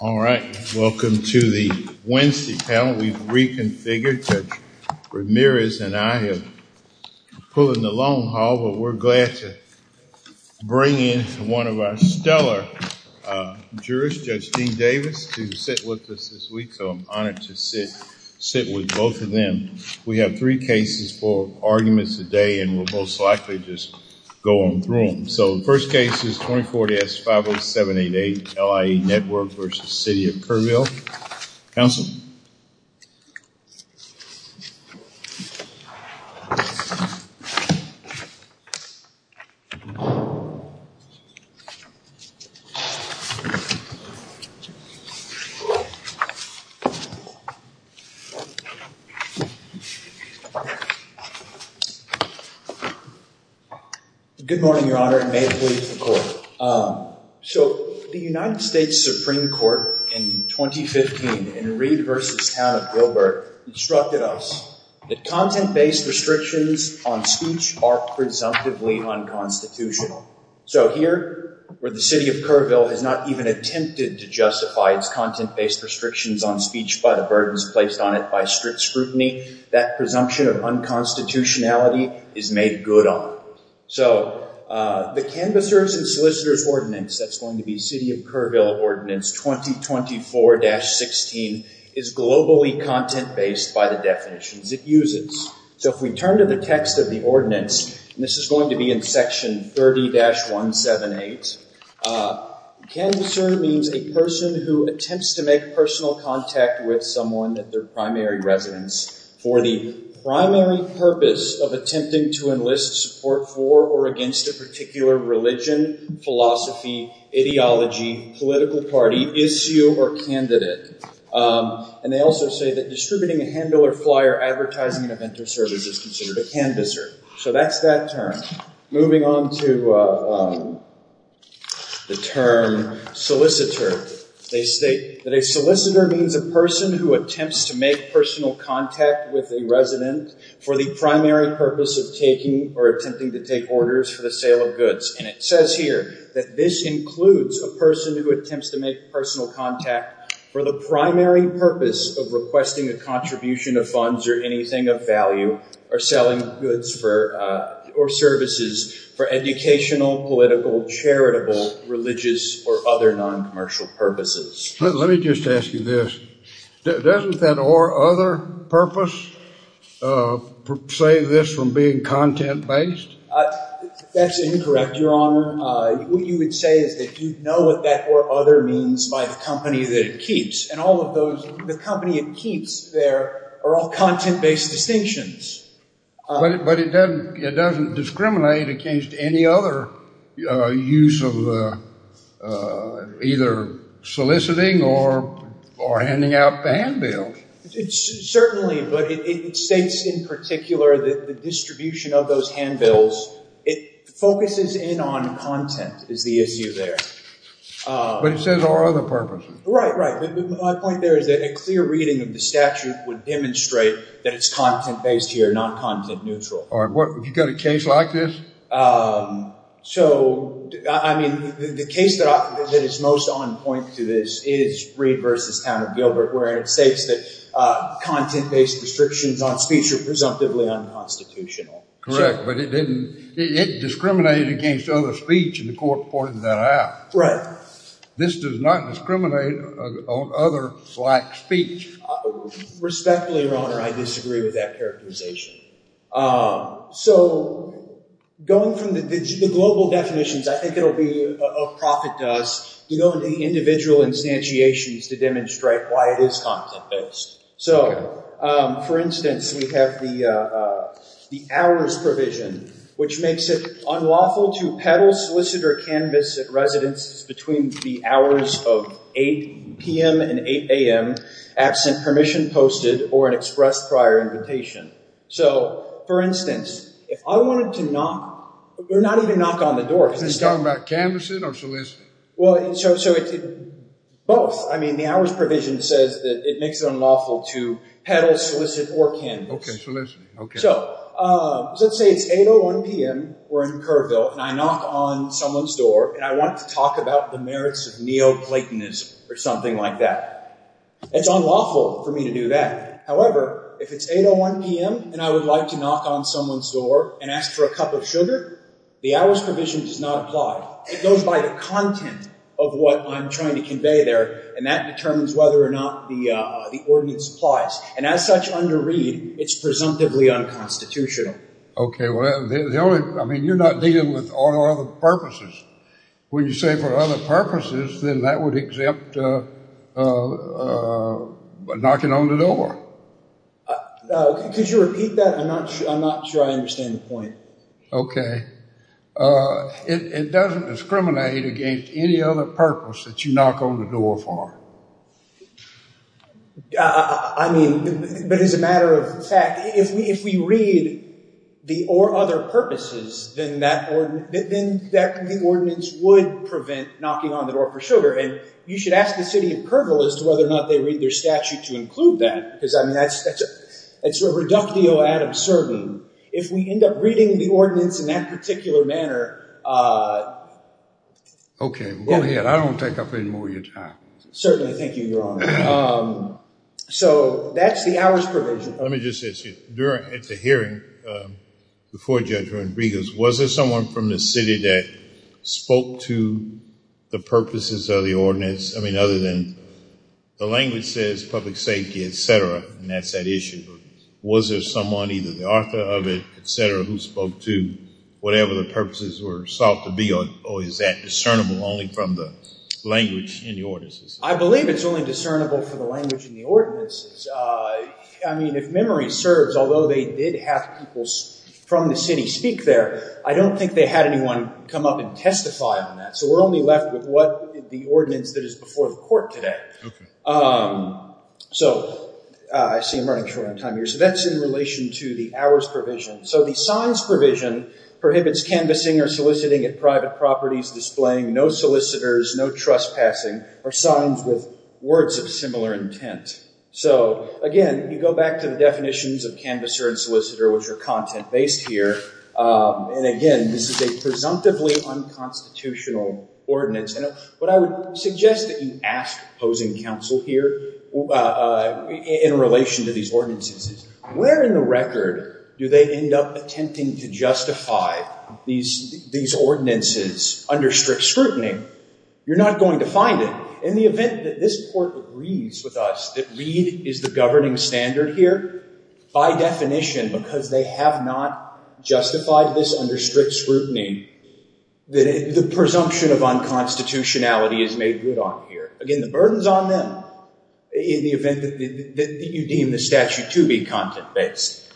All right, welcome to the Wednesday panel. We've reconfigured. Judge Ramirez and I have pulled in the long haul, but we're glad to bring in one of our stellar jurors, Judge Dean Davis, to sit with us this week, so I'm honored to sit with both of them. We have three cases, four arguments a day, and we'll most likely just go on through them. So the first case is 2040S-50788, LIA Network v. City of Kerrville. Counsel? Good morning, Your Honor, and may it please the Court. So the United States Supreme Court in 2015 in Reed v. Town of Gilbert instructed us that content-based restrictions on speech are presumptively unconstitutional. So here, where the City of Kerrville has not even attempted to justify its content-based restrictions on speech by the burdens placed on it by strict scrutiny, that presumption of unconstitutionality is made good on. So the Canvassers and Solicitors Ordinance, that's going to be City of Kerrville Ordinance 2024-16, is globally content-based by the definitions it uses. So if we turn to the text of the ordinance, and this is going to be in Section 30-178, Canvasser means a person who attempts to make personal contact with someone at their primary residence for the primary purpose of attempting to enlist support for or against a particular religion, philosophy, ideology, political party, issue, or candidate. And they also say that distributing a handbill or flyer advertising an event or service is considered a canvasser. So that's that term. Moving on to the term solicitor, they state that a solicitor means a person who attempts to make personal contact with a resident for the primary purpose of taking or attempting to take orders for the sale of goods. And it says here that this includes a person who attempts to make personal contact for the primary purpose of requesting a contribution of funds or anything of value, or selling goods or services for educational, political, charitable, religious, or other noncommercial purposes. Let me just ask you this. Doesn't that or other purpose save this from being content-based? That's incorrect, Your Honor. What you would say is that you know what that or other means by the company that it keeps. And all of those, the company it keeps there are all content-based distinctions. But it doesn't discriminate against any other use of either soliciting or handing out the handbills. Certainly, but it states in particular that the distribution of those handbills, it focuses in on content is the issue there. But it says or other purposes. Right, right. But my point there is that a clear reading of the statute would demonstrate that it's content-based here, not content-neutral. All right. What about a case like this? So, I mean, the case that is most on point to this is Reed v. Town of Gilbert, where it states that content-based restrictions on speech are presumptively unconstitutional. Correct, but it didn't, it discriminated against other speech in the court reported that out. Right. This does not discriminate on other like speech. Respectfully, Your Honor, I disagree with that characterization. So, going from the global definitions, I think it will be of profit to us to go into the individual instantiations to demonstrate why it is content-based. So for instance, we have the hours provision, which makes it unlawful to peddle, solicit, or canvass at residences between the hours of 8 p.m. and 8 a.m. absent permission posted or an express prior invitation. So, for instance, if I wanted to knock, or not even knock on the door. Are you talking about canvassing or soliciting? Well, so it's both. I mean, the hours provision says that it makes it unlawful to peddle, solicit, or canvass. Okay, soliciting, okay. So, let's say it's 8 a.m. or 1 p.m. We're in Kerrville and I knock on someone's door and I want to talk about the merits of neoplatonism or something like that. It's unlawful for me to do that. However, if it's 8 a.m. or 1 p.m. and I would like to knock on someone's door and ask for a cup of sugar, the hours provision does not apply. It goes by the content of what I'm trying to convey there, and that determines whether or not the ordinance applies. And as such, under Reed, it's presumptively unconstitutional. Okay, well, the only, I mean, you're not dealing with all other purposes. When you say for all other purposes, then that would exempt knocking on the door. Could you repeat that? I'm not sure I understand the point. Okay. It doesn't discriminate against any other purpose that you knock on the door for. I mean, but as a matter of fact, if we read the or other purposes, then that ordinance would prevent knocking on the door for sugar, and you should ask the city in Kerbal as to whether or not they read their statute to include that, because, I mean, that's a reductio ad absurdum. If we end up reading the ordinance in that particular manner... Okay, go ahead. I don't take up any more of your time. Certainly. Thank you, Your Honor. So that's the hours provision. Let me just ask you, at the hearing before Judge Rodriguez, was there someone from the city that spoke to the purposes of the ordinance? I mean, other than the language says public safety, et cetera, and that's that issue. Was there someone, either the author of it, et cetera, who spoke to whatever the purposes were sought to be, or is that discernible only from the language in the ordinances? I believe it's only discernible from the language in the ordinances. I mean, if memory serves, although they did have people from the city speak there, I don't think they had anyone come up and testify on that. So we're only left with what the ordinance that is before the court today. Okay. So I see I'm running short on time here. So that's in relation to the hours provision. So the signs provision prohibits canvassing or soliciting at private properties displaying no solicitors, no trespassing, or signs with words of similar intent. So, again, you go back to the definitions of canvasser and solicitor, which are content-based here. And, again, this is a presumptively unconstitutional ordinance. And what I would suggest that you ask opposing counsel here in relation to these ordinances is where in the record do they end up attempting to justify these ordinances under strict scrutiny? You're not going to find it. In the event that this court agrees with us that Reed is the governing standard here, by definition, because they have not justified this under strict scrutiny, the presumption of unconstitutionality is made good on here. Again, the burden's on them in the event that you deem the statute to be content-based.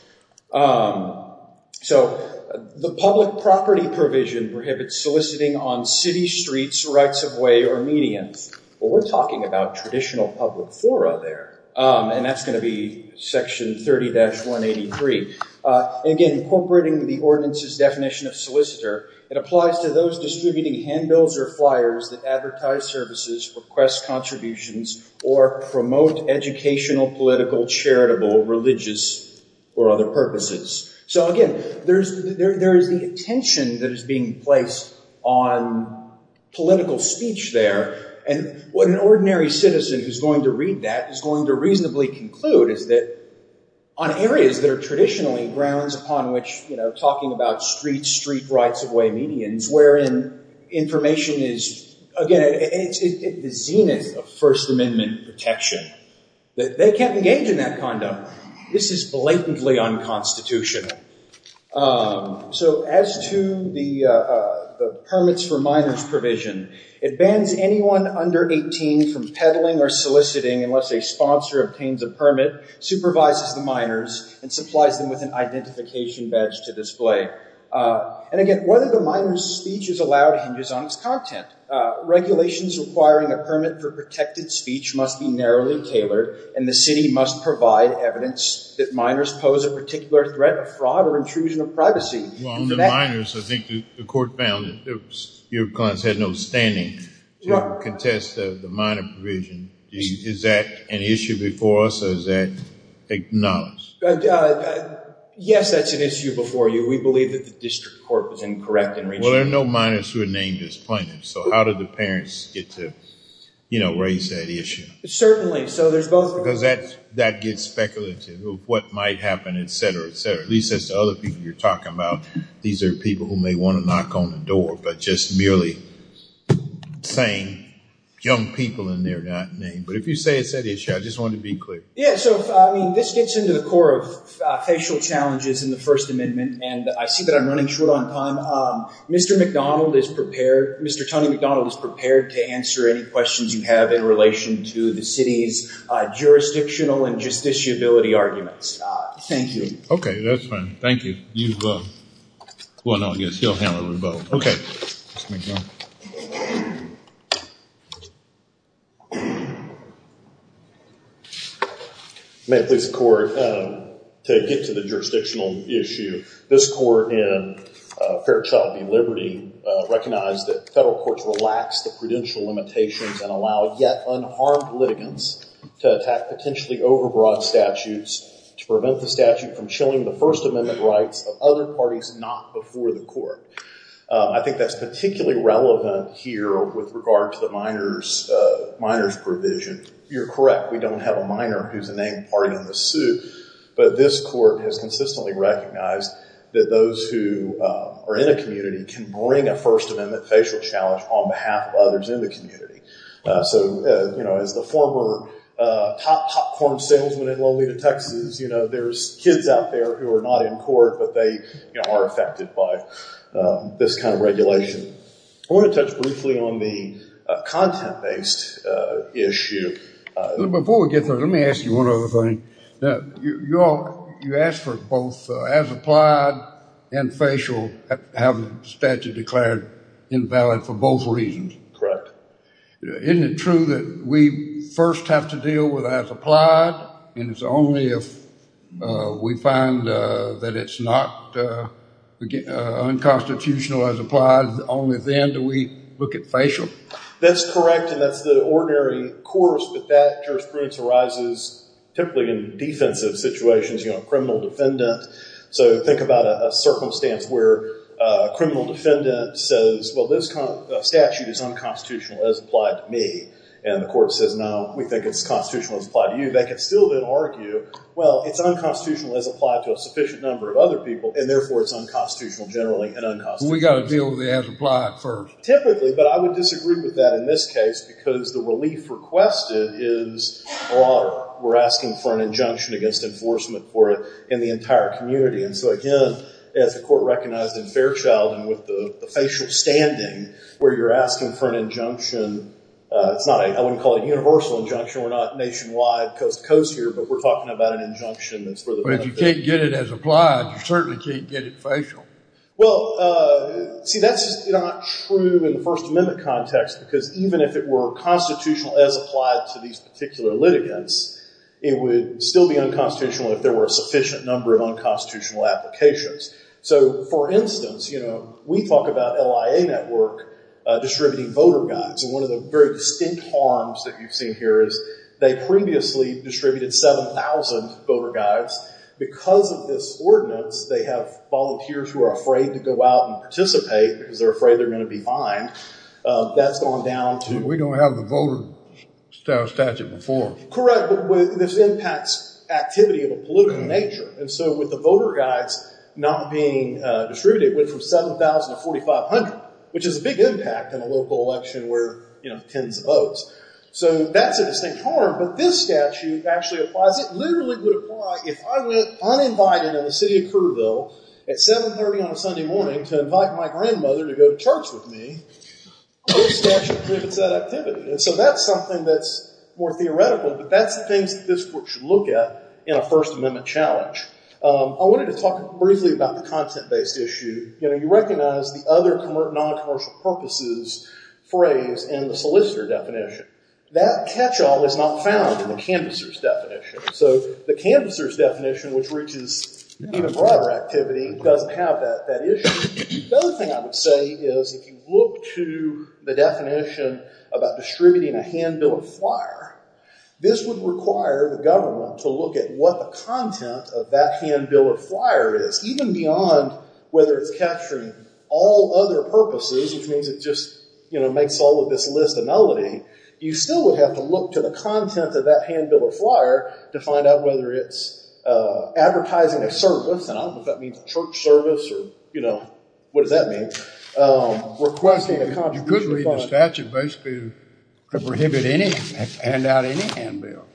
So the public property provision prohibits soliciting on city streets rights of way or medians. Well, we're talking about traditional public fora there, and that's going to be Section 30-183. Again, incorporating the ordinance's definition of solicitor, it applies to those distributing handbills or flyers that advertise services, request contributions, or promote educational, political, charitable, religious, or other purposes. So, again, there is the tension that is being placed on political speech there, and what an ordinary citizen who's going to read that is going to reasonably conclude is that on areas that are traditionally grounds upon which, you know, talking about streets, street rights of way medians, wherein information is, again, it's the zenith of First Amendment protection. They can't engage in that conduct. This is blatantly unconstitutional. So as to the permits for minors provision, it bans anyone under 18 from peddling or soliciting unless a sponsor obtains a permit, supervises the minors, and supplies them with an identification badge to display. And again, whether the minor's speech is allowed hinges on its content. Regulations requiring a permit for protected speech must be narrowly tailored, and the courts provide evidence that minors pose a particular threat of fraud or intrusion of privacy. Well, on the minors, I think the court found that your clients had no standing to contest the minor provision. Is that an issue before us, or is that acknowledged? Yes, that's an issue before you. We believe that the district court was incorrect in reaching Well, there are no minors who are named as plaintiffs, so how do the parents get to, you know, raise that issue? Certainly. So there's both Because that gets speculative of what might happen, et cetera, et cetera. At least as to other people you're talking about, these are people who may want to knock on the door, but just merely saying young people in their name. But if you say it's an issue, I just wanted to be clear. Yeah, so I mean, this gets into the core of facial challenges in the First Amendment, and I see that I'm running short on time. Mr. McDonald is prepared, Mr. Tony McDonald is prepared to answer any questions you have in relation to the city's jurisdictional and justiciability arguments. Thank you. Okay, that's fine. Thank you. Well, no, I guess he'll handle the vote. Okay. May it please the court, to get to the jurisdictional issue, this court in Fair Child v. Liberty recognized that federal courts relax the prudential limitations and allow yet unharmed litigants to attack potentially overbroad statutes to prevent the statute from chilling the First Amendment rights of other parties not before the court. I think that's particularly relevant here with regard to the minors provision. You're correct, we don't have a minor who's a named party in the suit, but this court has consistently recognized that those who are in a community can bring a First Amendment facial challenge on behalf of others in the community. So, you know, as the former top-form salesman in Lolita, Texas, you know, there's kids out there who are not in court, but they are affected by this kind of regulation. I want to touch briefly on the content-based issue. Before we get there, let me ask you one other thing. You asked for both as-applied and facial having the statute declared invalid for both reasons. Isn't it true that we first have to deal with as-applied, and it's only if we find that it's not unconstitutional as-applied, only then do we look at facial? That's correct, and that's the ordinary course, but that jurisprudence arises typically in defensive situations, you know, a criminal defendant. So, think about a circumstance where a criminal defendant says, well, this statute is unconstitutional as-applied to me, and the court says, no, we think it's constitutional as-applied to you. They can still then argue, well, it's unconstitutional as-applied to a sufficient number of other people, and therefore it's unconstitutional generally and unconstitutional. We've got to deal with the as-applied first. Typically, but I would disagree with that in this case because the relief requested is, or we're asking for an injunction against enforcement for it in the entire community. And so, again, as the court recognized in Fairchild and with the facial standing, where you're asking for an injunction, it's not a, I wouldn't call it a universal injunction, we're not nationwide coast-to-coast here, but we're talking about an injunction that's for the benefit- But if you can't get it as-applied, you certainly can't get it facial. Well, see, that's not true in the First Amendment context because even if it were constitutional as-applied to these particular litigants, it would still be unconstitutional if there were a sufficient number of unconstitutional applications. So, for instance, we talk about LIA Network distributing voter guides. And one of the very distinct harms that you've seen here is they previously distributed 7,000 voter guides. Because of this ordinance, they have volunteers who are afraid to go out and participate because they're afraid they're going to be fined. That's gone down to- Our statute before. But this impacts activity of a political nature. And so, with the voter guides not being distributed, it went from 7,000 to 4,500, which is a big impact in a local election where tens of votes. So, that's a distinct harm. But this statute actually applies. It literally would apply if I went uninvited in the city of Kerrville at 7.30 on a Sunday morning to invite my grandmother to go to church with me, this statute prevents that activity. And so, that's something that's more theoretical. But that's the things that this court should look at in a First Amendment challenge. I wanted to talk briefly about the content-based issue. You recognize the other non-commercial purposes phrase in the solicitor definition. That catch-all is not found in the canvasser's definition. So, the canvasser's definition, which reaches even broader activity, doesn't have that issue. The other thing I would say is if you look to the definition about distributing a handbill or flyer, this would require the government to look at what the content of that handbill or flyer is. Even beyond whether it's capturing all other purposes, which means it just makes all of this list a melody, you still would have to look to the content of that handbill or flyer to find out whether it's advertising a service. And I don't know if that means a church service or, you know, what does that mean? Requesting a contribution from... You could read the statute basically to prohibit handing out any handbill.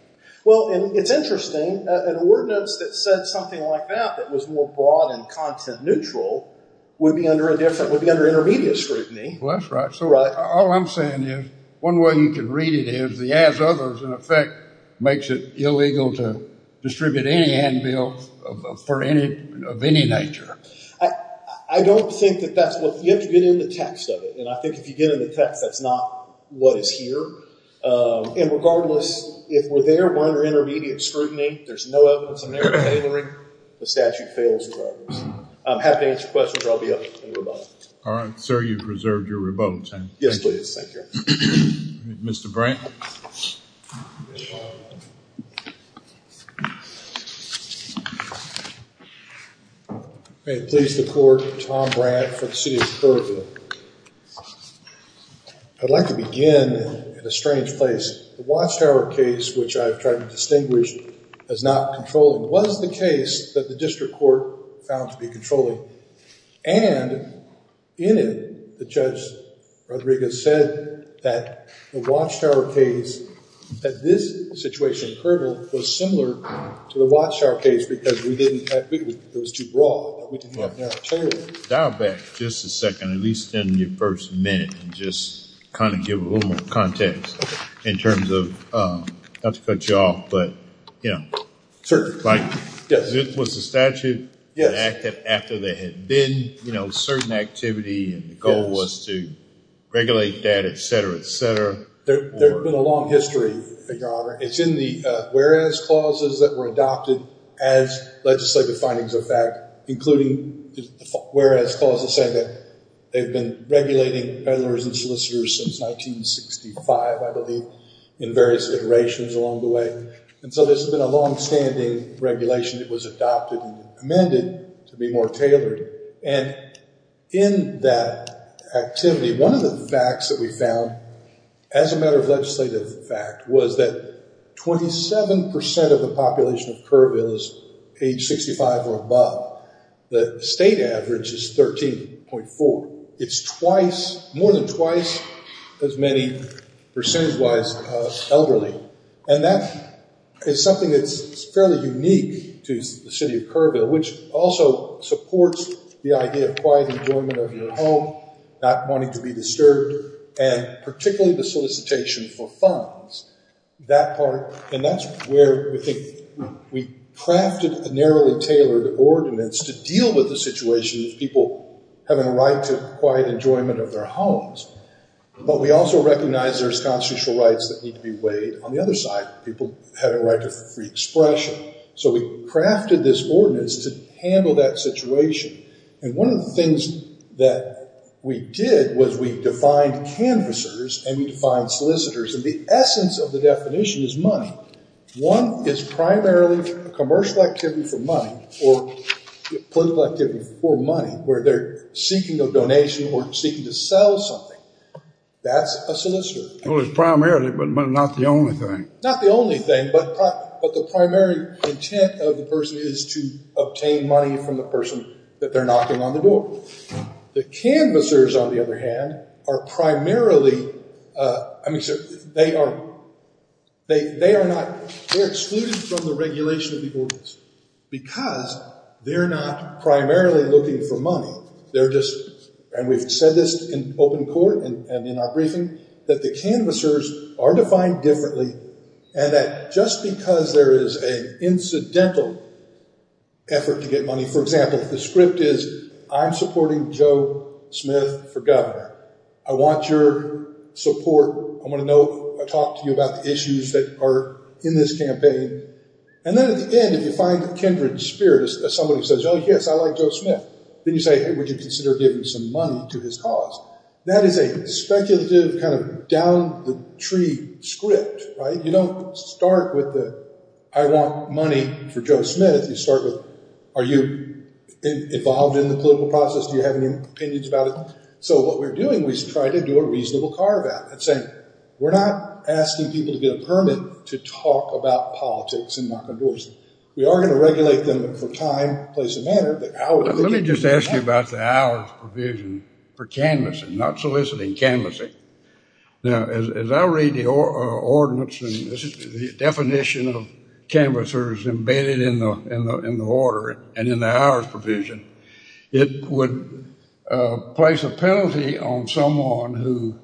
Well, and it's interesting. An ordinance that said something like that, that was more broad and content-neutral, would be under intermediate scrutiny. Well, that's right. So, all I'm saying is one way you can read it is the as-others, in effect, makes it illegal to distribute any handbill of any nature. I don't think that that's what... You have to get in the text of it. And I think if you get in the text, that's not what is here. And regardless, if we're there, we're under intermediate scrutiny. There's no evidence in there tailoring. The statute fails regardless. I'm happy to answer questions or I'll be up in rebuttal. All right. Sir, you've reserved your rebuttal time. Yes, please. Thank you. Mr. Brant. May it please the court, Tom Brant for the city of Kerrville. I'd like to begin in a strange place. The Watchtower case, which I've tried to distinguish as not controlling, was the case that the district court found to be controlling. And in it, the Judge Rodriguez said that the Watchtower case, that this situation in Kerrville was similar to the Watchtower case because we didn't have... It was too broad. We didn't have enough tailoring. Dial back just a second, at least in your first minute, and just kind of give a little more context in terms of... Not to cut you off, but, you know... Sir. Yes. Was the statute enacted after there had been certain activity and the goal was to regulate that, et cetera, et cetera? There had been a long history, Your Honor. It's in the whereas clauses that were adopted as legislative findings of fact, including whereas clauses said that they'd been regulating peddlers and solicitors since 1965, I believe, in various iterations along the way. And so this has been a longstanding regulation that was adopted and amended to be more tailored. And in that activity, one of the facts that we found, as a matter of legislative fact, was that 27% of the population of Kerrville is age 65 or above. The state average is 13.4. It's twice, more than twice, as many percentage-wise elderly. And that is something that's fairly unique to the city of Kerrville, which also supports the idea of quiet enjoyment of your home, not wanting to be disturbed, and particularly the solicitation for funds. That part, and that's where we think we crafted a narrowly tailored ordinance to deal with the situation of people having a right to quiet enjoyment of their homes. But we also recognize there's constitutional rights that need to be weighed on the other side, people having a right to free expression. So we crafted this ordinance to handle that situation. And one of the things that we did was we defined canvassers and we defined solicitors. And the essence of the definition is money. One is primarily a commercial activity for money, or a political activity for money, where they're seeking a donation or seeking to sell something. That's a solicitor. Well, it's primarily, but not the only thing. Not the only thing, but the primary intent of the person is to obtain money from the person that they're knocking on the door. The canvassers, on the other hand, are primarily, I mean, they are not, they're excluded from the regulation of the ordinance because they're not primarily looking for money. They're just, and we've said this in open court and in our briefing, that the canvassers are defined differently and that just because there is an incidental effort to get money, for example, if the script is I'm supporting Joe Smith for governor, I want your support. I want to know, talk to you about the issues that are in this campaign. And then at the end, if you find a kindred spirit as somebody who says, oh, yes, I like Joe Smith. Then you say, hey, would you consider giving some money to his cause? That is a speculative kind of down the tree script, right? You don't start with the, I want money for Joe Smith. You start with, are you involved in the political process? Do you have any opinions about it? So what we're doing, we try to do a reasonable carve out. We're not asking people to get a permit to talk about politics and knock on doors. We are going to regulate them for time, place, and manner. Let me just ask you about the hours provision for canvassing, not soliciting canvassing. Now, as I read the ordinance, the definition of canvassers embedded in the order and in the hours provision, it would place a penalty on someone who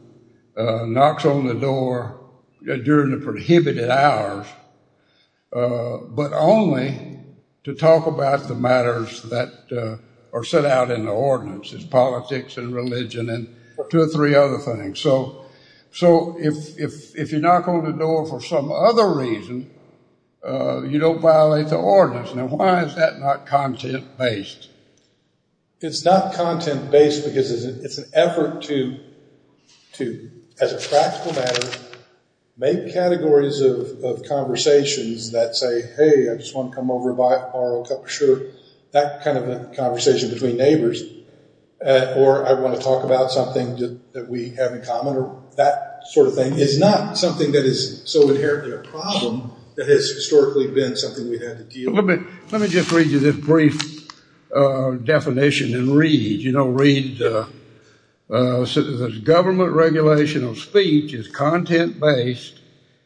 knocks on the door during the prohibited hours, but only to talk about the matters that are set out in the ordinance. It's politics and religion and two or three other things. So if you knock on the door for some other reason, you don't violate the ordinance. Now, why is that not content-based? It's not content-based because it's an effort to, as a practical matter, make categories of conversations that say, hey, I just want to come over and borrow a cup of sugar, that kind of a conversation between neighbors, or I want to talk about something that we have in common, or that sort of thing. It's not something that is so inherently a problem that has historically been something we've had to deal with. Let me just read you this brief definition and read, you know, read. The government regulation of speech is content-based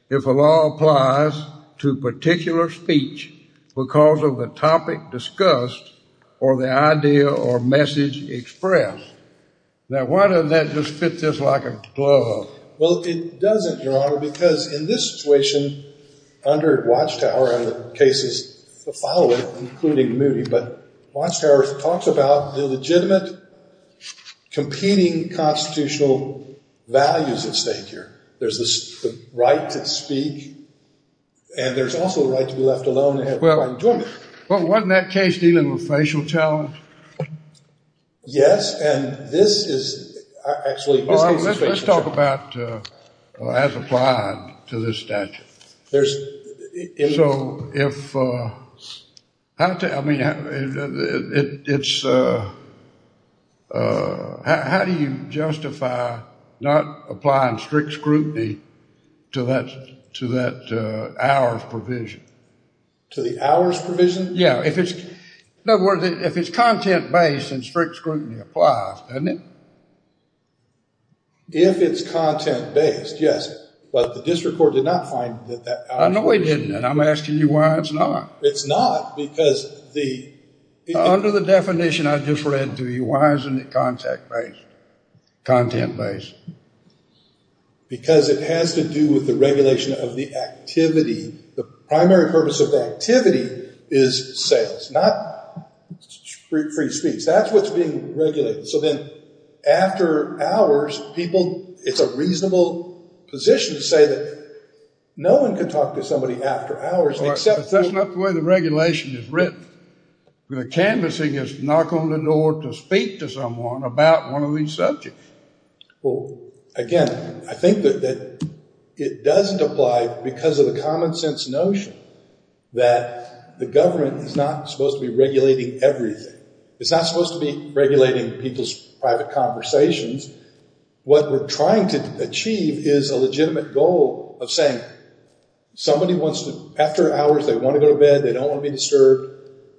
if a law applies to particular speech because of the topic discussed or the idea or message expressed. Now, why doesn't that just fit this like a glove? Well, it doesn't, Your Honor, because in this situation under Watchtower and the cases following, including Moody, but Watchtower talks about the legitimate competing constitutional values at stake here. There's the right to speak, and there's also the right to be left alone and have fun doing it. Well, wasn't that case dealing with facial talent? Yes, and this is actually the situation. Well, let's talk about as applied to this statute. So if, I mean, it's, how do you justify not applying strict scrutiny to that hours provision? To the hours provision? Yeah, if it's, in other words, if it's content-based, then strict scrutiny applies, doesn't it? If it's content-based, yes, but the district court did not find that that hours provision. I know they didn't, and I'm asking you why it's not. It's not because the... Under the definition I just read to you, why isn't it content-based? Because it has to do with the regulation of the activity. The primary purpose of the activity is sales, not free speech. That's what's being regulated. So then after hours, people, it's a reasonable position to say that no one can talk to somebody after hours. But that's not the way the regulation is written. The canvassing is knock on the door to speak to someone about one of these subjects. Well, again, I think that it doesn't apply because of the common sense notion that the government is not supposed to be regulating everything. It's not supposed to be regulating people's private conversations. What we're trying to achieve is a legitimate goal of saying somebody wants to, after hours, they want to go to bed, they don't want to be disturbed.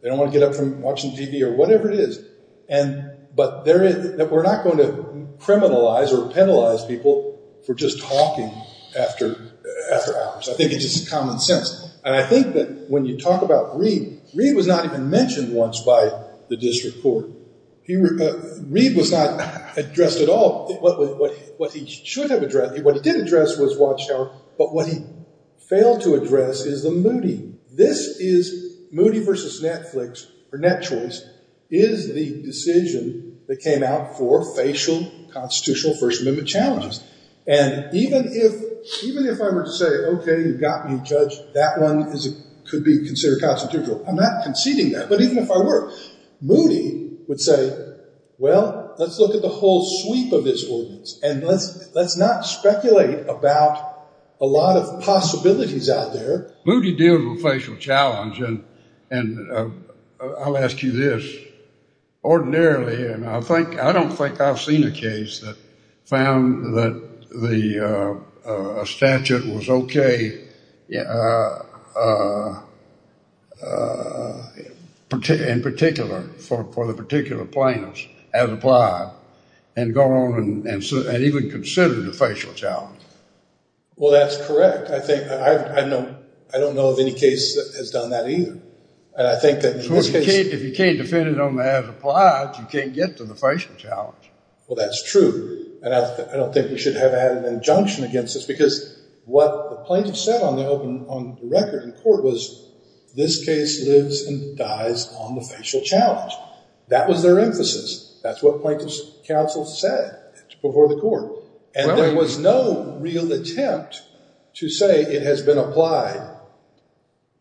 They don't want to get up from watching TV or whatever it is. But we're not going to criminalize or penalize people for just talking after hours. I think it's just common sense. And I think that when you talk about Reid, Reid was not even mentioned once by the district court. Reid was not addressed at all. What he should have addressed, what he did address was Watchtower, but what he failed to address is the Moody. This is Moody versus Netflix or NetChoice is the decision that came out for facial constitutional First Amendment challenges. And even if even if I were to say, OK, you've got me, judge, that one could be considered constitutional. I'm not conceding that. But even if I were, Moody would say, well, let's look at the whole sweep of this ordinance. And let's let's not speculate about a lot of possibilities out there. Moody deals with facial challenge. And I'll ask you this. Ordinarily, and I think I don't think I've seen a case that found that the statute was OK. In particular for the particular plaintiffs as applied and gone on and even considered a facial challenge. Well, that's correct. I don't know of any case that has done that either. And I think that if you can't defend it on the as applied, you can't get to the facial challenge. Well, that's true. And I don't think we should have had an injunction against us because what the plaintiffs said on the record in court was this case lives and dies on the facial challenge. That was their emphasis. That's what plaintiffs counsel said before the court. And there was no real attempt to say it has been applied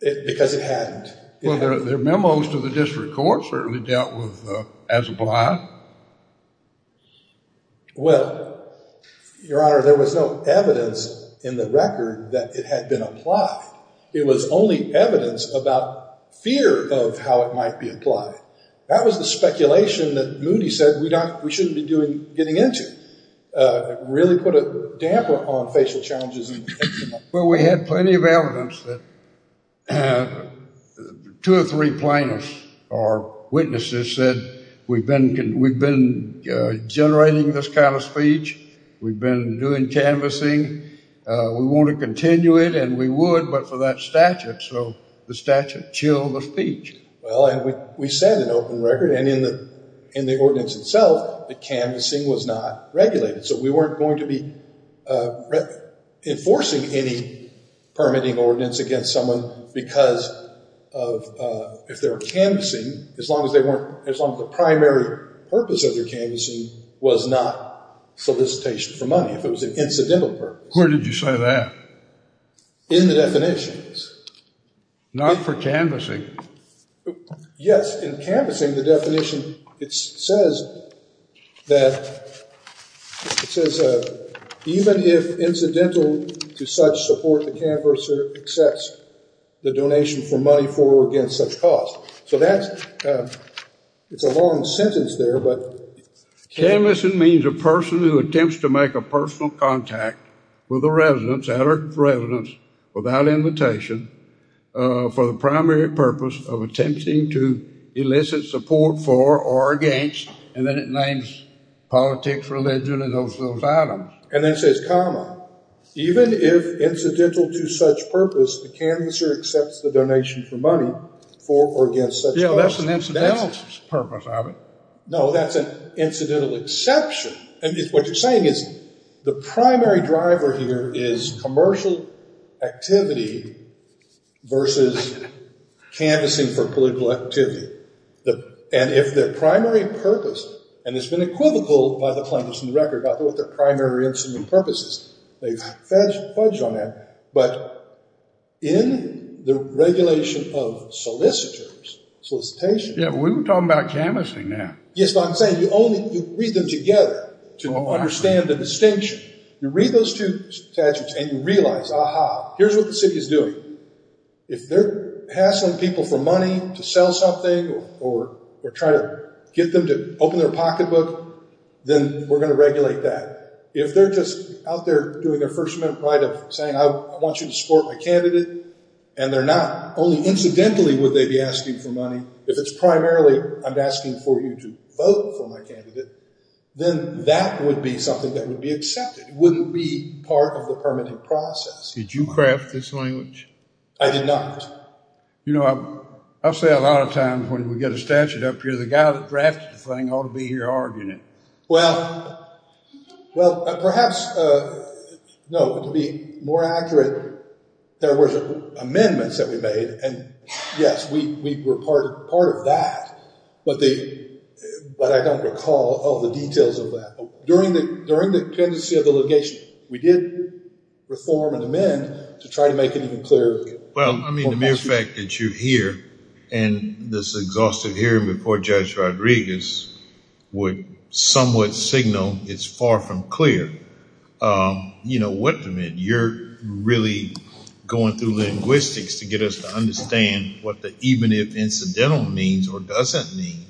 because it hadn't. Well, their memos to the district court certainly dealt with as applied. Well, Your Honor, there was no evidence in the record that it had been applied. It was only evidence about fear of how it might be applied. That was the speculation that Moody said we shouldn't be getting into. It really put a damper on facial challenges. Well, we had plenty of evidence that two or three plaintiffs or witnesses said we've been generating this kind of speech. We've been doing canvassing. We want to continue it. And we would, but for that statute. So the statute chilled the speech. Well, and we set an open record. And in the ordinance itself, the canvassing was not regulated. So we weren't going to be enforcing any permitting ordinance against someone because if they were canvassing, as long as the primary purpose of their canvassing was not solicitation for money, if it was an incidental purpose. Where did you say that? In the definitions. Not for canvassing. Yes, in canvassing, the definition, it says that even if incidental to such support, the canvasser accepts the donation for money for or against such cause. So that's a long sentence there. Canvassing means a person who attempts to make a personal contact with a resident without invitation for the primary purpose of attempting to elicit support for or against, and then it names politics, religion, and those items. And then it says, comma, even if incidental to such purpose, the canvasser accepts the donation for money for or against such cause. Yeah, that's an incidental purpose of it. No, that's an incidental exception. And what you're saying is the primary driver here is commercial activity versus canvassing for political activity. And if their primary purpose, and it's been equivocal by the plaintiffs in the record about what their primary incidental purpose is. They've fudged on that. But in the regulation of solicitors, solicitation. Yeah, we were talking about canvassing now. Yes, but I'm saying you only read them together to understand the distinction. You read those two statutes and you realize, aha, here's what the city is doing. If they're hassling people for money to sell something or try to get them to open their pocketbook, then we're going to regulate that. If they're just out there doing their first amendment right of saying, I want you to support my candidate, and they're not. Only incidentally would they be asking for money. If it's primarily, I'm asking for you to vote for my candidate, then that would be something that would be accepted. It wouldn't be part of the permitting process. Did you craft this language? I did not. You know, I say a lot of times when we get a statute up here, the guy that drafted the thing ought to be here arguing it. Well, perhaps, no, to be more accurate, there were amendments that we made, and yes, we were part of that. But I don't recall all the details of that. During the pendency of the litigation, we did reform and amend to try to make it even clearer. Well, I mean, the mere fact that you're here, and this exhaustive hearing before Judge Rodriguez would somewhat signal it's far from clear. You're really going through linguistics to get us to understand what the even if incidental means or doesn't mean.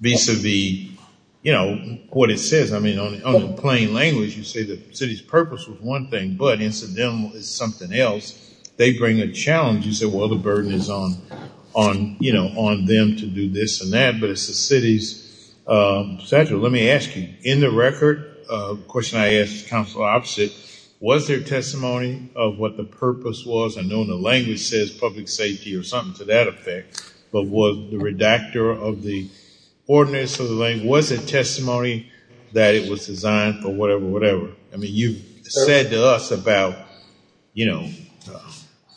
Vis-a-vis, you know, what it says. I mean, on the plain language, you say the city's purpose was one thing, but incidental is something else. They bring a challenge. You say, well, the burden is on them to do this and that, but it's the city's statute. Let me ask you, in the record, the question I asked Council Opposite, was there testimony of what the purpose was? I know the language says public safety or something to that effect. But was the redactor of the ordinance of the language, was it testimony that it was designed for whatever, whatever? I mean, you said to us about, you know,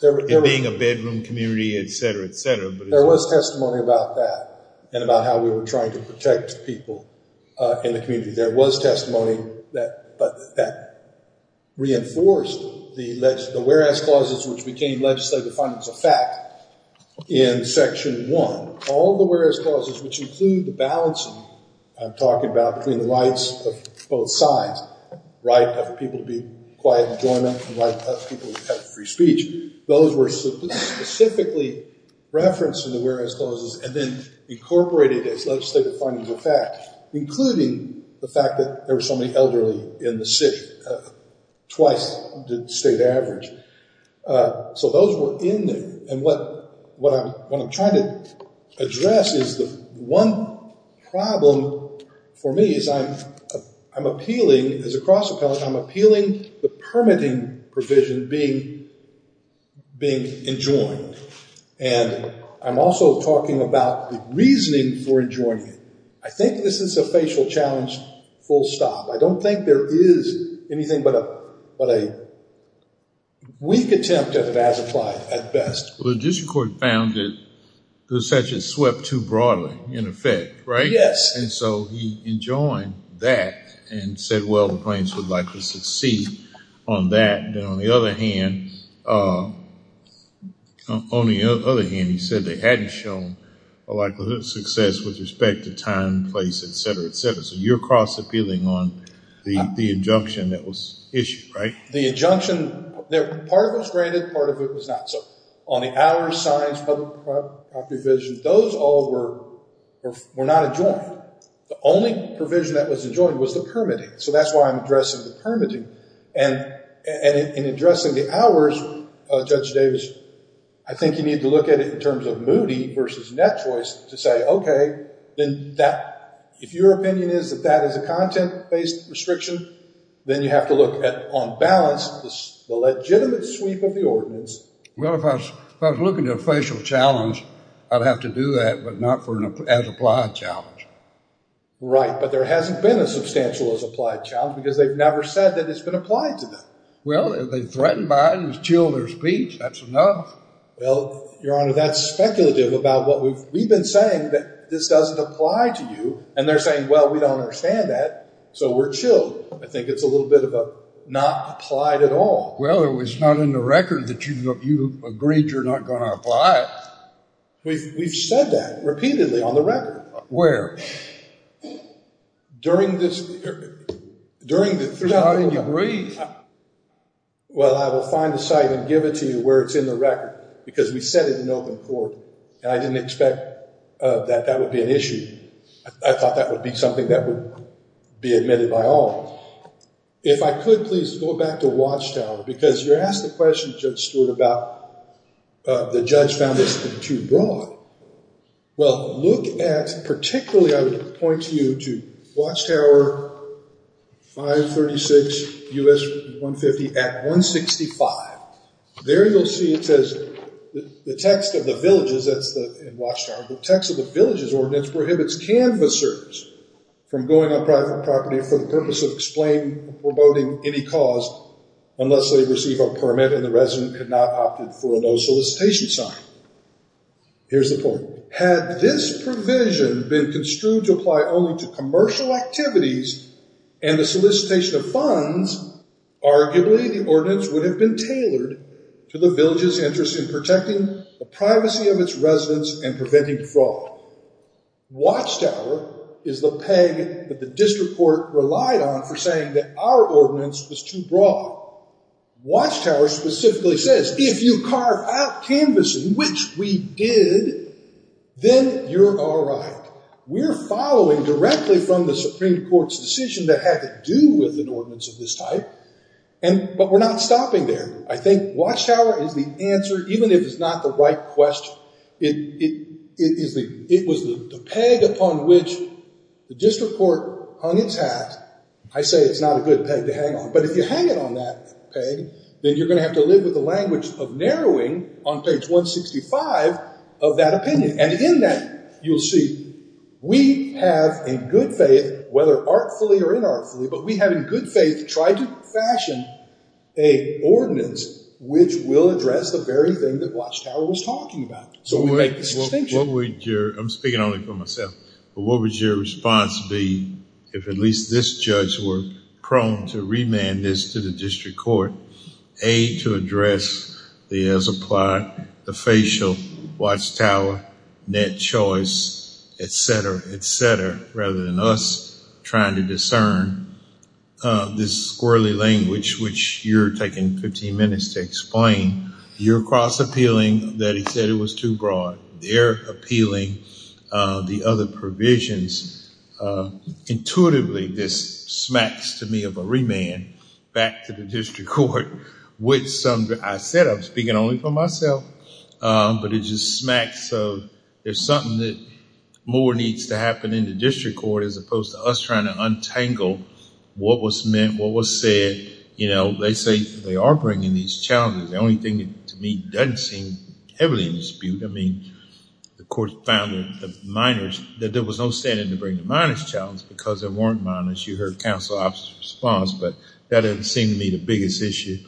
it being a bedroom community, et cetera, et cetera. There was testimony about that and about how we were trying to protect people in the community. There was testimony that reinforced the whereas clauses, which became legislative findings of fact in Section 1. All the whereas clauses, which include the balancing I'm talking about between the rights of both sides, right of people to be quiet and join up, and right of people to have free speech, those were specifically referenced in the whereas clauses and then incorporated as legislative findings of fact, including the fact that there were so many elderly in the city, twice the state average. So those were in there. And what I'm trying to address is the one problem for me is I'm appealing, as a cross appellate, I'm appealing the permitting provision being enjoined. And I'm also talking about the reasoning for enjoining it. I think this is a facial challenge, full stop. I don't think there is anything but a weak attempt at it as applied at best. Well, the Judicial Court found that the statute swept too broadly, in effect, right? Yes. And so he enjoined that and said, well, the plaintiffs would like to succeed on that. And on the other hand, he said they hadn't shown a likelihood of success with respect to time, place, et cetera, et cetera. So you're cross appealing on the injunction that was issued, right? The injunction, part of it was granted, part of it was not. So on the hours, signs, public property provision, those all were not enjoined. The only provision that was enjoined was the permitting. So that's why I'm addressing the permitting. And in addressing the hours, Judge Davis, I think you need to look at it in terms of Moody versus Net Choice to say, okay, then if your opinion is that that is a content-based restriction, then you have to look at, on balance, the legitimate sweep of the ordinance. Well, if I was looking at a facial challenge, I'd have to do that, but not for an as-applied challenge. Right, but there hasn't been a substantial as-applied challenge because they've never said that it's been applied to them. Well, if they threatened by it and it was chilled their speech, that's enough. Well, Your Honor, that's speculative about what we've been saying, that this doesn't apply to you. And they're saying, well, we don't understand that, so we're chilled. I think it's a little bit of a not applied at all. Well, it was not in the record that you agreed you're not going to apply it. We've said that repeatedly on the record. Where? During this hearing. No, I didn't agree. Well, I will find the site and give it to you where it's in the record because we said it in open court, and I didn't expect that that would be an issue. I thought that would be something that would be admitted by all. If I could, please, go back to Watchtower because you're asking a question, Judge Stewart, about the judge found this to be too broad. Well, look at, particularly I would point to you to Watchtower 536 U.S. 150 Act 165. There you'll see it says, the text of the village's, that's in Watchtower, the text of the village's ordinance prohibits canvassers from going on private property for the purpose of explaining or promoting any cause unless they receive a permit and the resident could not opt in for a no solicitation sign. Here's the point. Had this provision been construed to apply only to commercial activities and the solicitation of funds, arguably the ordinance would have been tailored to the village's interest in protecting the privacy of its residents and preventing fraud. Watchtower is the peg that the district court relied on for saying that our ordinance was too broad. Watchtower specifically says, if you carve out canvassing, which we did, then you're all right. We're following directly from the Supreme Court's decision that had to do with an ordinance of this type, but we're not stopping there. I think Watchtower is the answer, even if it's not the right question. It was the peg upon which the district court hung its hat. I say it's not a good peg to hang on, but if you hang it on that peg, then you're going to have to live with the language of narrowing on page 165 of that opinion. And in that, you'll see we have in good faith, whether artfully or inartfully, but we have in good faith tried to fashion a ordinance which will address the very thing that Watchtower was talking about. So we make this distinction. I'm speaking only for myself, but what would your response be if at least this judge were prone to remand this to the district court? A, to address the as applied, the facial Watchtower net choice, et cetera, et cetera, rather than us trying to discern this squirrelly language, which you're taking 15 minutes to explain. You're cross appealing that he said it was too broad. They're appealing the other provisions. Intuitively, this smacks to me of a remand back to the district court, which I said I'm speaking only for myself, but it just smacks of there's something that more needs to happen in the district court as opposed to us trying to untangle what was meant, what was said. They say they are bringing these challenges. The only thing to me doesn't seem heavily in dispute. I mean, the court found that the minors, that there was no standing to bring the minors challenge because there weren't minors. You heard counsel officer's response, but that doesn't seem to be the biggest issue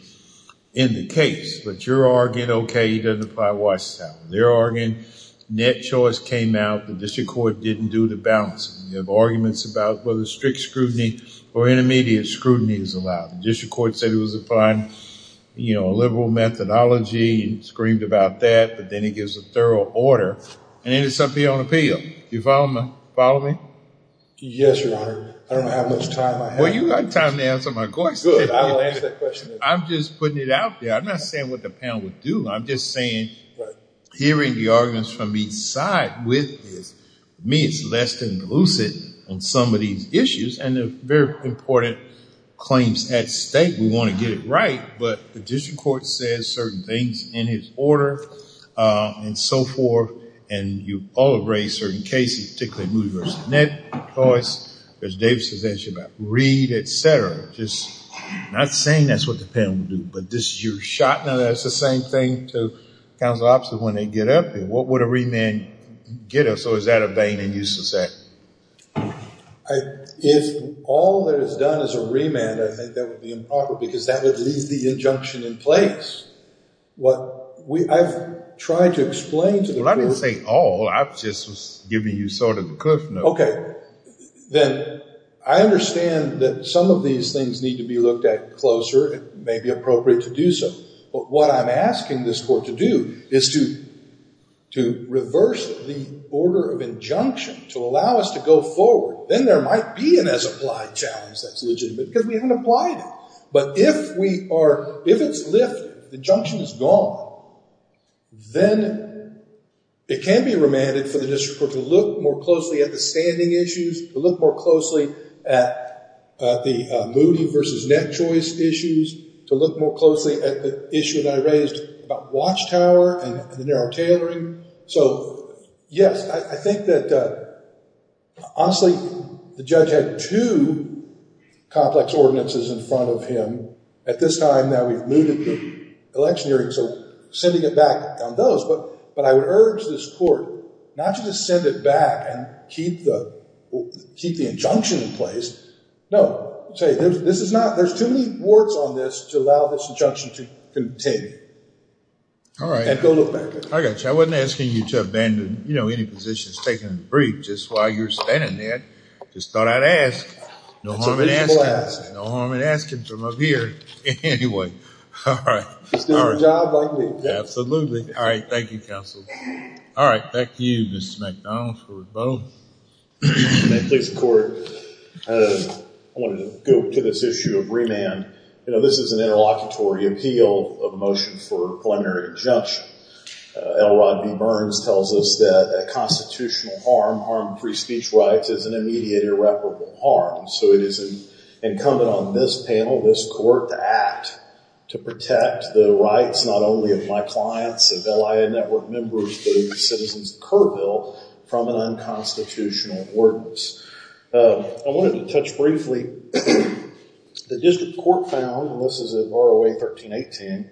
in the case, but you're arguing, okay, he doesn't apply Watchtower. They're arguing net choice came out. The district court didn't do the balancing. We have arguments about whether strict scrutiny or intermediate scrutiny is allowed. The district court said it was upon a liberal methodology and screamed about that, but then he gives a thorough order, and then it's up to you on appeal. Do you follow me? Yes, Your Honor. I don't have much time. Well, you got time to answer my question. Good. I'll answer that question. I'm just putting it out there. I'm not saying what the panel would do. I'm just saying hearing the arguments from each side with me is less than lucid on some of these issues, and they're very important claims at stake. We want to get it right, but the district court says certain things in his order and so forth, and you all have raised certain cases, particularly Moody v. Net choice. There's Davis' issue about Reed, et cetera. Just not saying that's what the panel would do, but this is your shot. Now, that's the same thing to counsel opposite when they get up there. What would a remand get us, or is that a vain and useless act? If all that is done is a remand, I think that would be improper because that would leave the injunction in place. I've tried to explain to the court. Well, I didn't say all. I just was giving you sort of the cliff notes. Okay. Then I understand that some of these things need to be looked at closer. It may be appropriate to do so, but what I'm asking this court to do is to reverse the order of injunction to allow us to go forward. Then there might be an as-applied challenge that's legitimate because we haven't applied it. If it's lifted, the injunction is gone, then it can be remanded for the district court to look more closely at the standing issues, to look more closely at the Moody v. Net choice issues, to look more closely at the issue that I raised about Watchtower and the narrow tailoring. Yes, I think that, honestly, the judge had two complex ordinances in front of him at this time that we've moved the election hearing, so sending it back on those. But I would urge this court not to just send it back and keep the injunction in place. No, there's too many warts on this to allow this injunction to continue. All right. And go look back at it. I got you. I wasn't asking you to abandon any positions taken in the brief just while you were standing there. I just thought I'd ask. No harm in asking. That's a reasonable ask. No harm in asking from up here. Anyway, all right. Just do your job like me. Absolutely. All right. Thank you, counsel. All right. Back to you, Mr. McDonald for both. May it please the court. I wanted to go to this issue of remand. This is an interlocutory appeal of motion for preliminary injunction. L. Rod B. Burns tells us that a constitutional harm, harm to free speech rights, is an immediate irreparable harm. So it is incumbent on this panel, this court, to act to protect the rights not only of my clients, of LIA network members, but of the citizens of Kerrville from an unconstitutional ordinance. I wanted to touch briefly. The district court found, and this is in ROA 1318,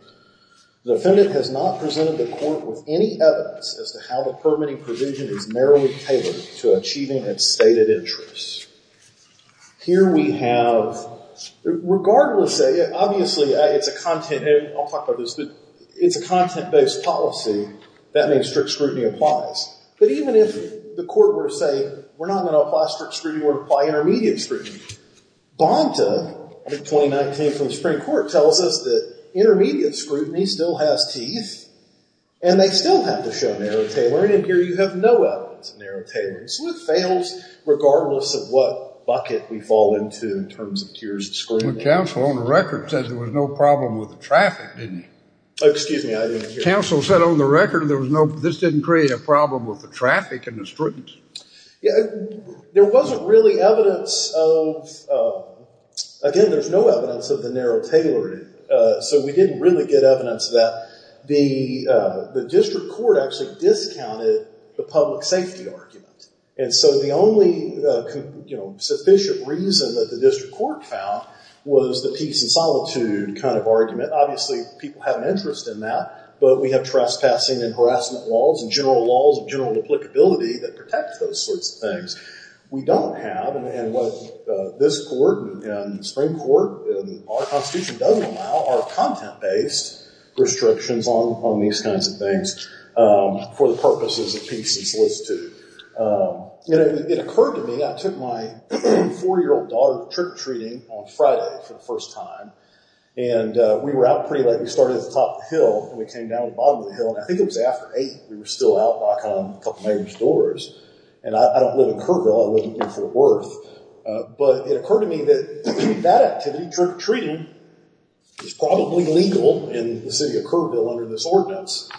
the defendant has not presented the court with any evidence as to how the permitting provision is narrowly tailored to achieving its stated interests. Here we have, regardless, obviously, it's a content-based policy. That means strict scrutiny applies. But even if the court were to say, we're not going to apply strict scrutiny, we're going to apply intermediate scrutiny. Bonta, 2019 from the Supreme Court, tells us that intermediate scrutiny still has teeth, and they still have to show narrow tailoring, and here you have no evidence of narrow tailoring. So it fails regardless of what bucket we fall into in terms of tiers of scrutiny. Well, counsel, on the record, says there was no problem with the traffic, didn't he? Oh, excuse me, I didn't hear that. Counsel said on the record this didn't create a problem with the traffic and the scrutiny. There wasn't really evidence of, again, there's no evidence of the narrow tailoring, so we didn't really get evidence of that. The district court actually discounted the public safety argument, and so the only sufficient reason that the district court found was the peace and solitude kind of argument. Obviously, people have an interest in that, but we have trespassing and harassment laws and general laws of general applicability that protect those sorts of things. We don't have, and what this court and the Supreme Court and our Constitution doesn't allow, are content-based restrictions on these kinds of things for the purposes of peace and solicitude. It occurred to me, I took my four-year-old daughter trick-treating on Friday for the first time, and we were out pretty late. We started at the top of the hill, and we came down to the bottom of the hill, and I think it was after 8, we were still out knocking on a couple neighbors' doors, and I don't live in Kerrville, I live in New Fort Worth, but it occurred to me that that activity, trick-treating, was probably legal in the city of Kerrville under this ordinance,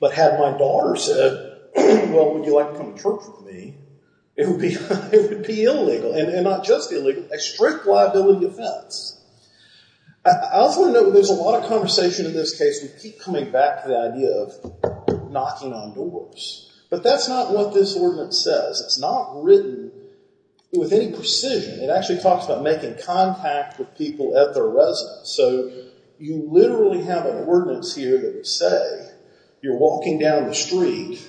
but had my daughter said, well, would you like to come to church with me, it would be illegal, and not just illegal, a strict liability offense. I also want to note that there's a lot of conversation in this case, we keep coming back to the idea of knocking on doors, but that's not what this ordinance says. It's not written with any precision. It actually talks about making contact with people at their residence, so you literally have an ordinance here that would say you're walking down the street,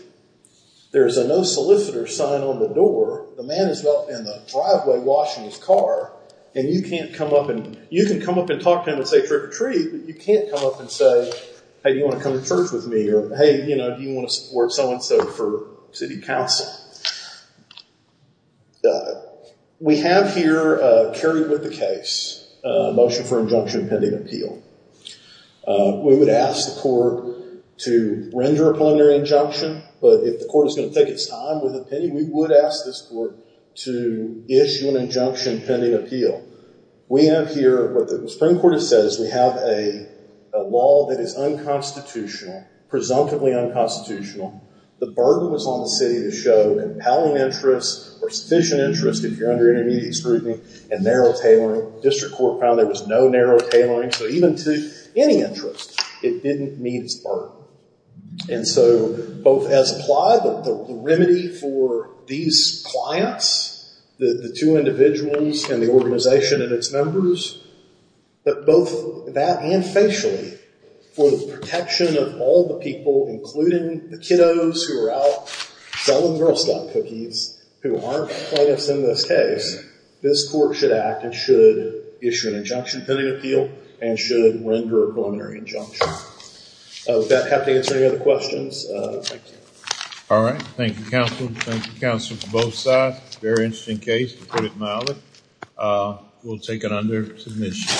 there's a no solicitor sign on the door, the man is out in the driveway washing his car, and you can come up and talk to him and say trick-or-treat, but you can't come up and say, hey, do you want to come to church with me, or hey, do you want to support so-and-so for city council? We have here, carried with the case, a motion for injunction pending appeal. We would ask the court to render a preliminary injunction, but if the court is going to take its time with the opinion, we would ask this court to issue an injunction pending appeal. We have here, what the Supreme Court has said, is we have a law that is unconstitutional, presumptively unconstitutional. The burden was on the city to show compelling interest, or sufficient interest if you're under intermediate scrutiny, and narrow tailoring. District Court found there was no narrow tailoring, so even to any interest, it didn't meet its burden. And so, both as applied, the remedy for these clients, the two individuals and the organization and its members, that both that and facially, for the protection of all the people, including the kiddos who are out selling Girl Scout cookies, who aren't plaintiffs in this case, this court should act and should issue an injunction pending appeal, and should render a preliminary injunction. Does that have to answer any other questions? Thank you. All right. Thank you, counsel. Thank you, counsel, for both sides. Very interesting case, to put it mildly. We'll take it under submission.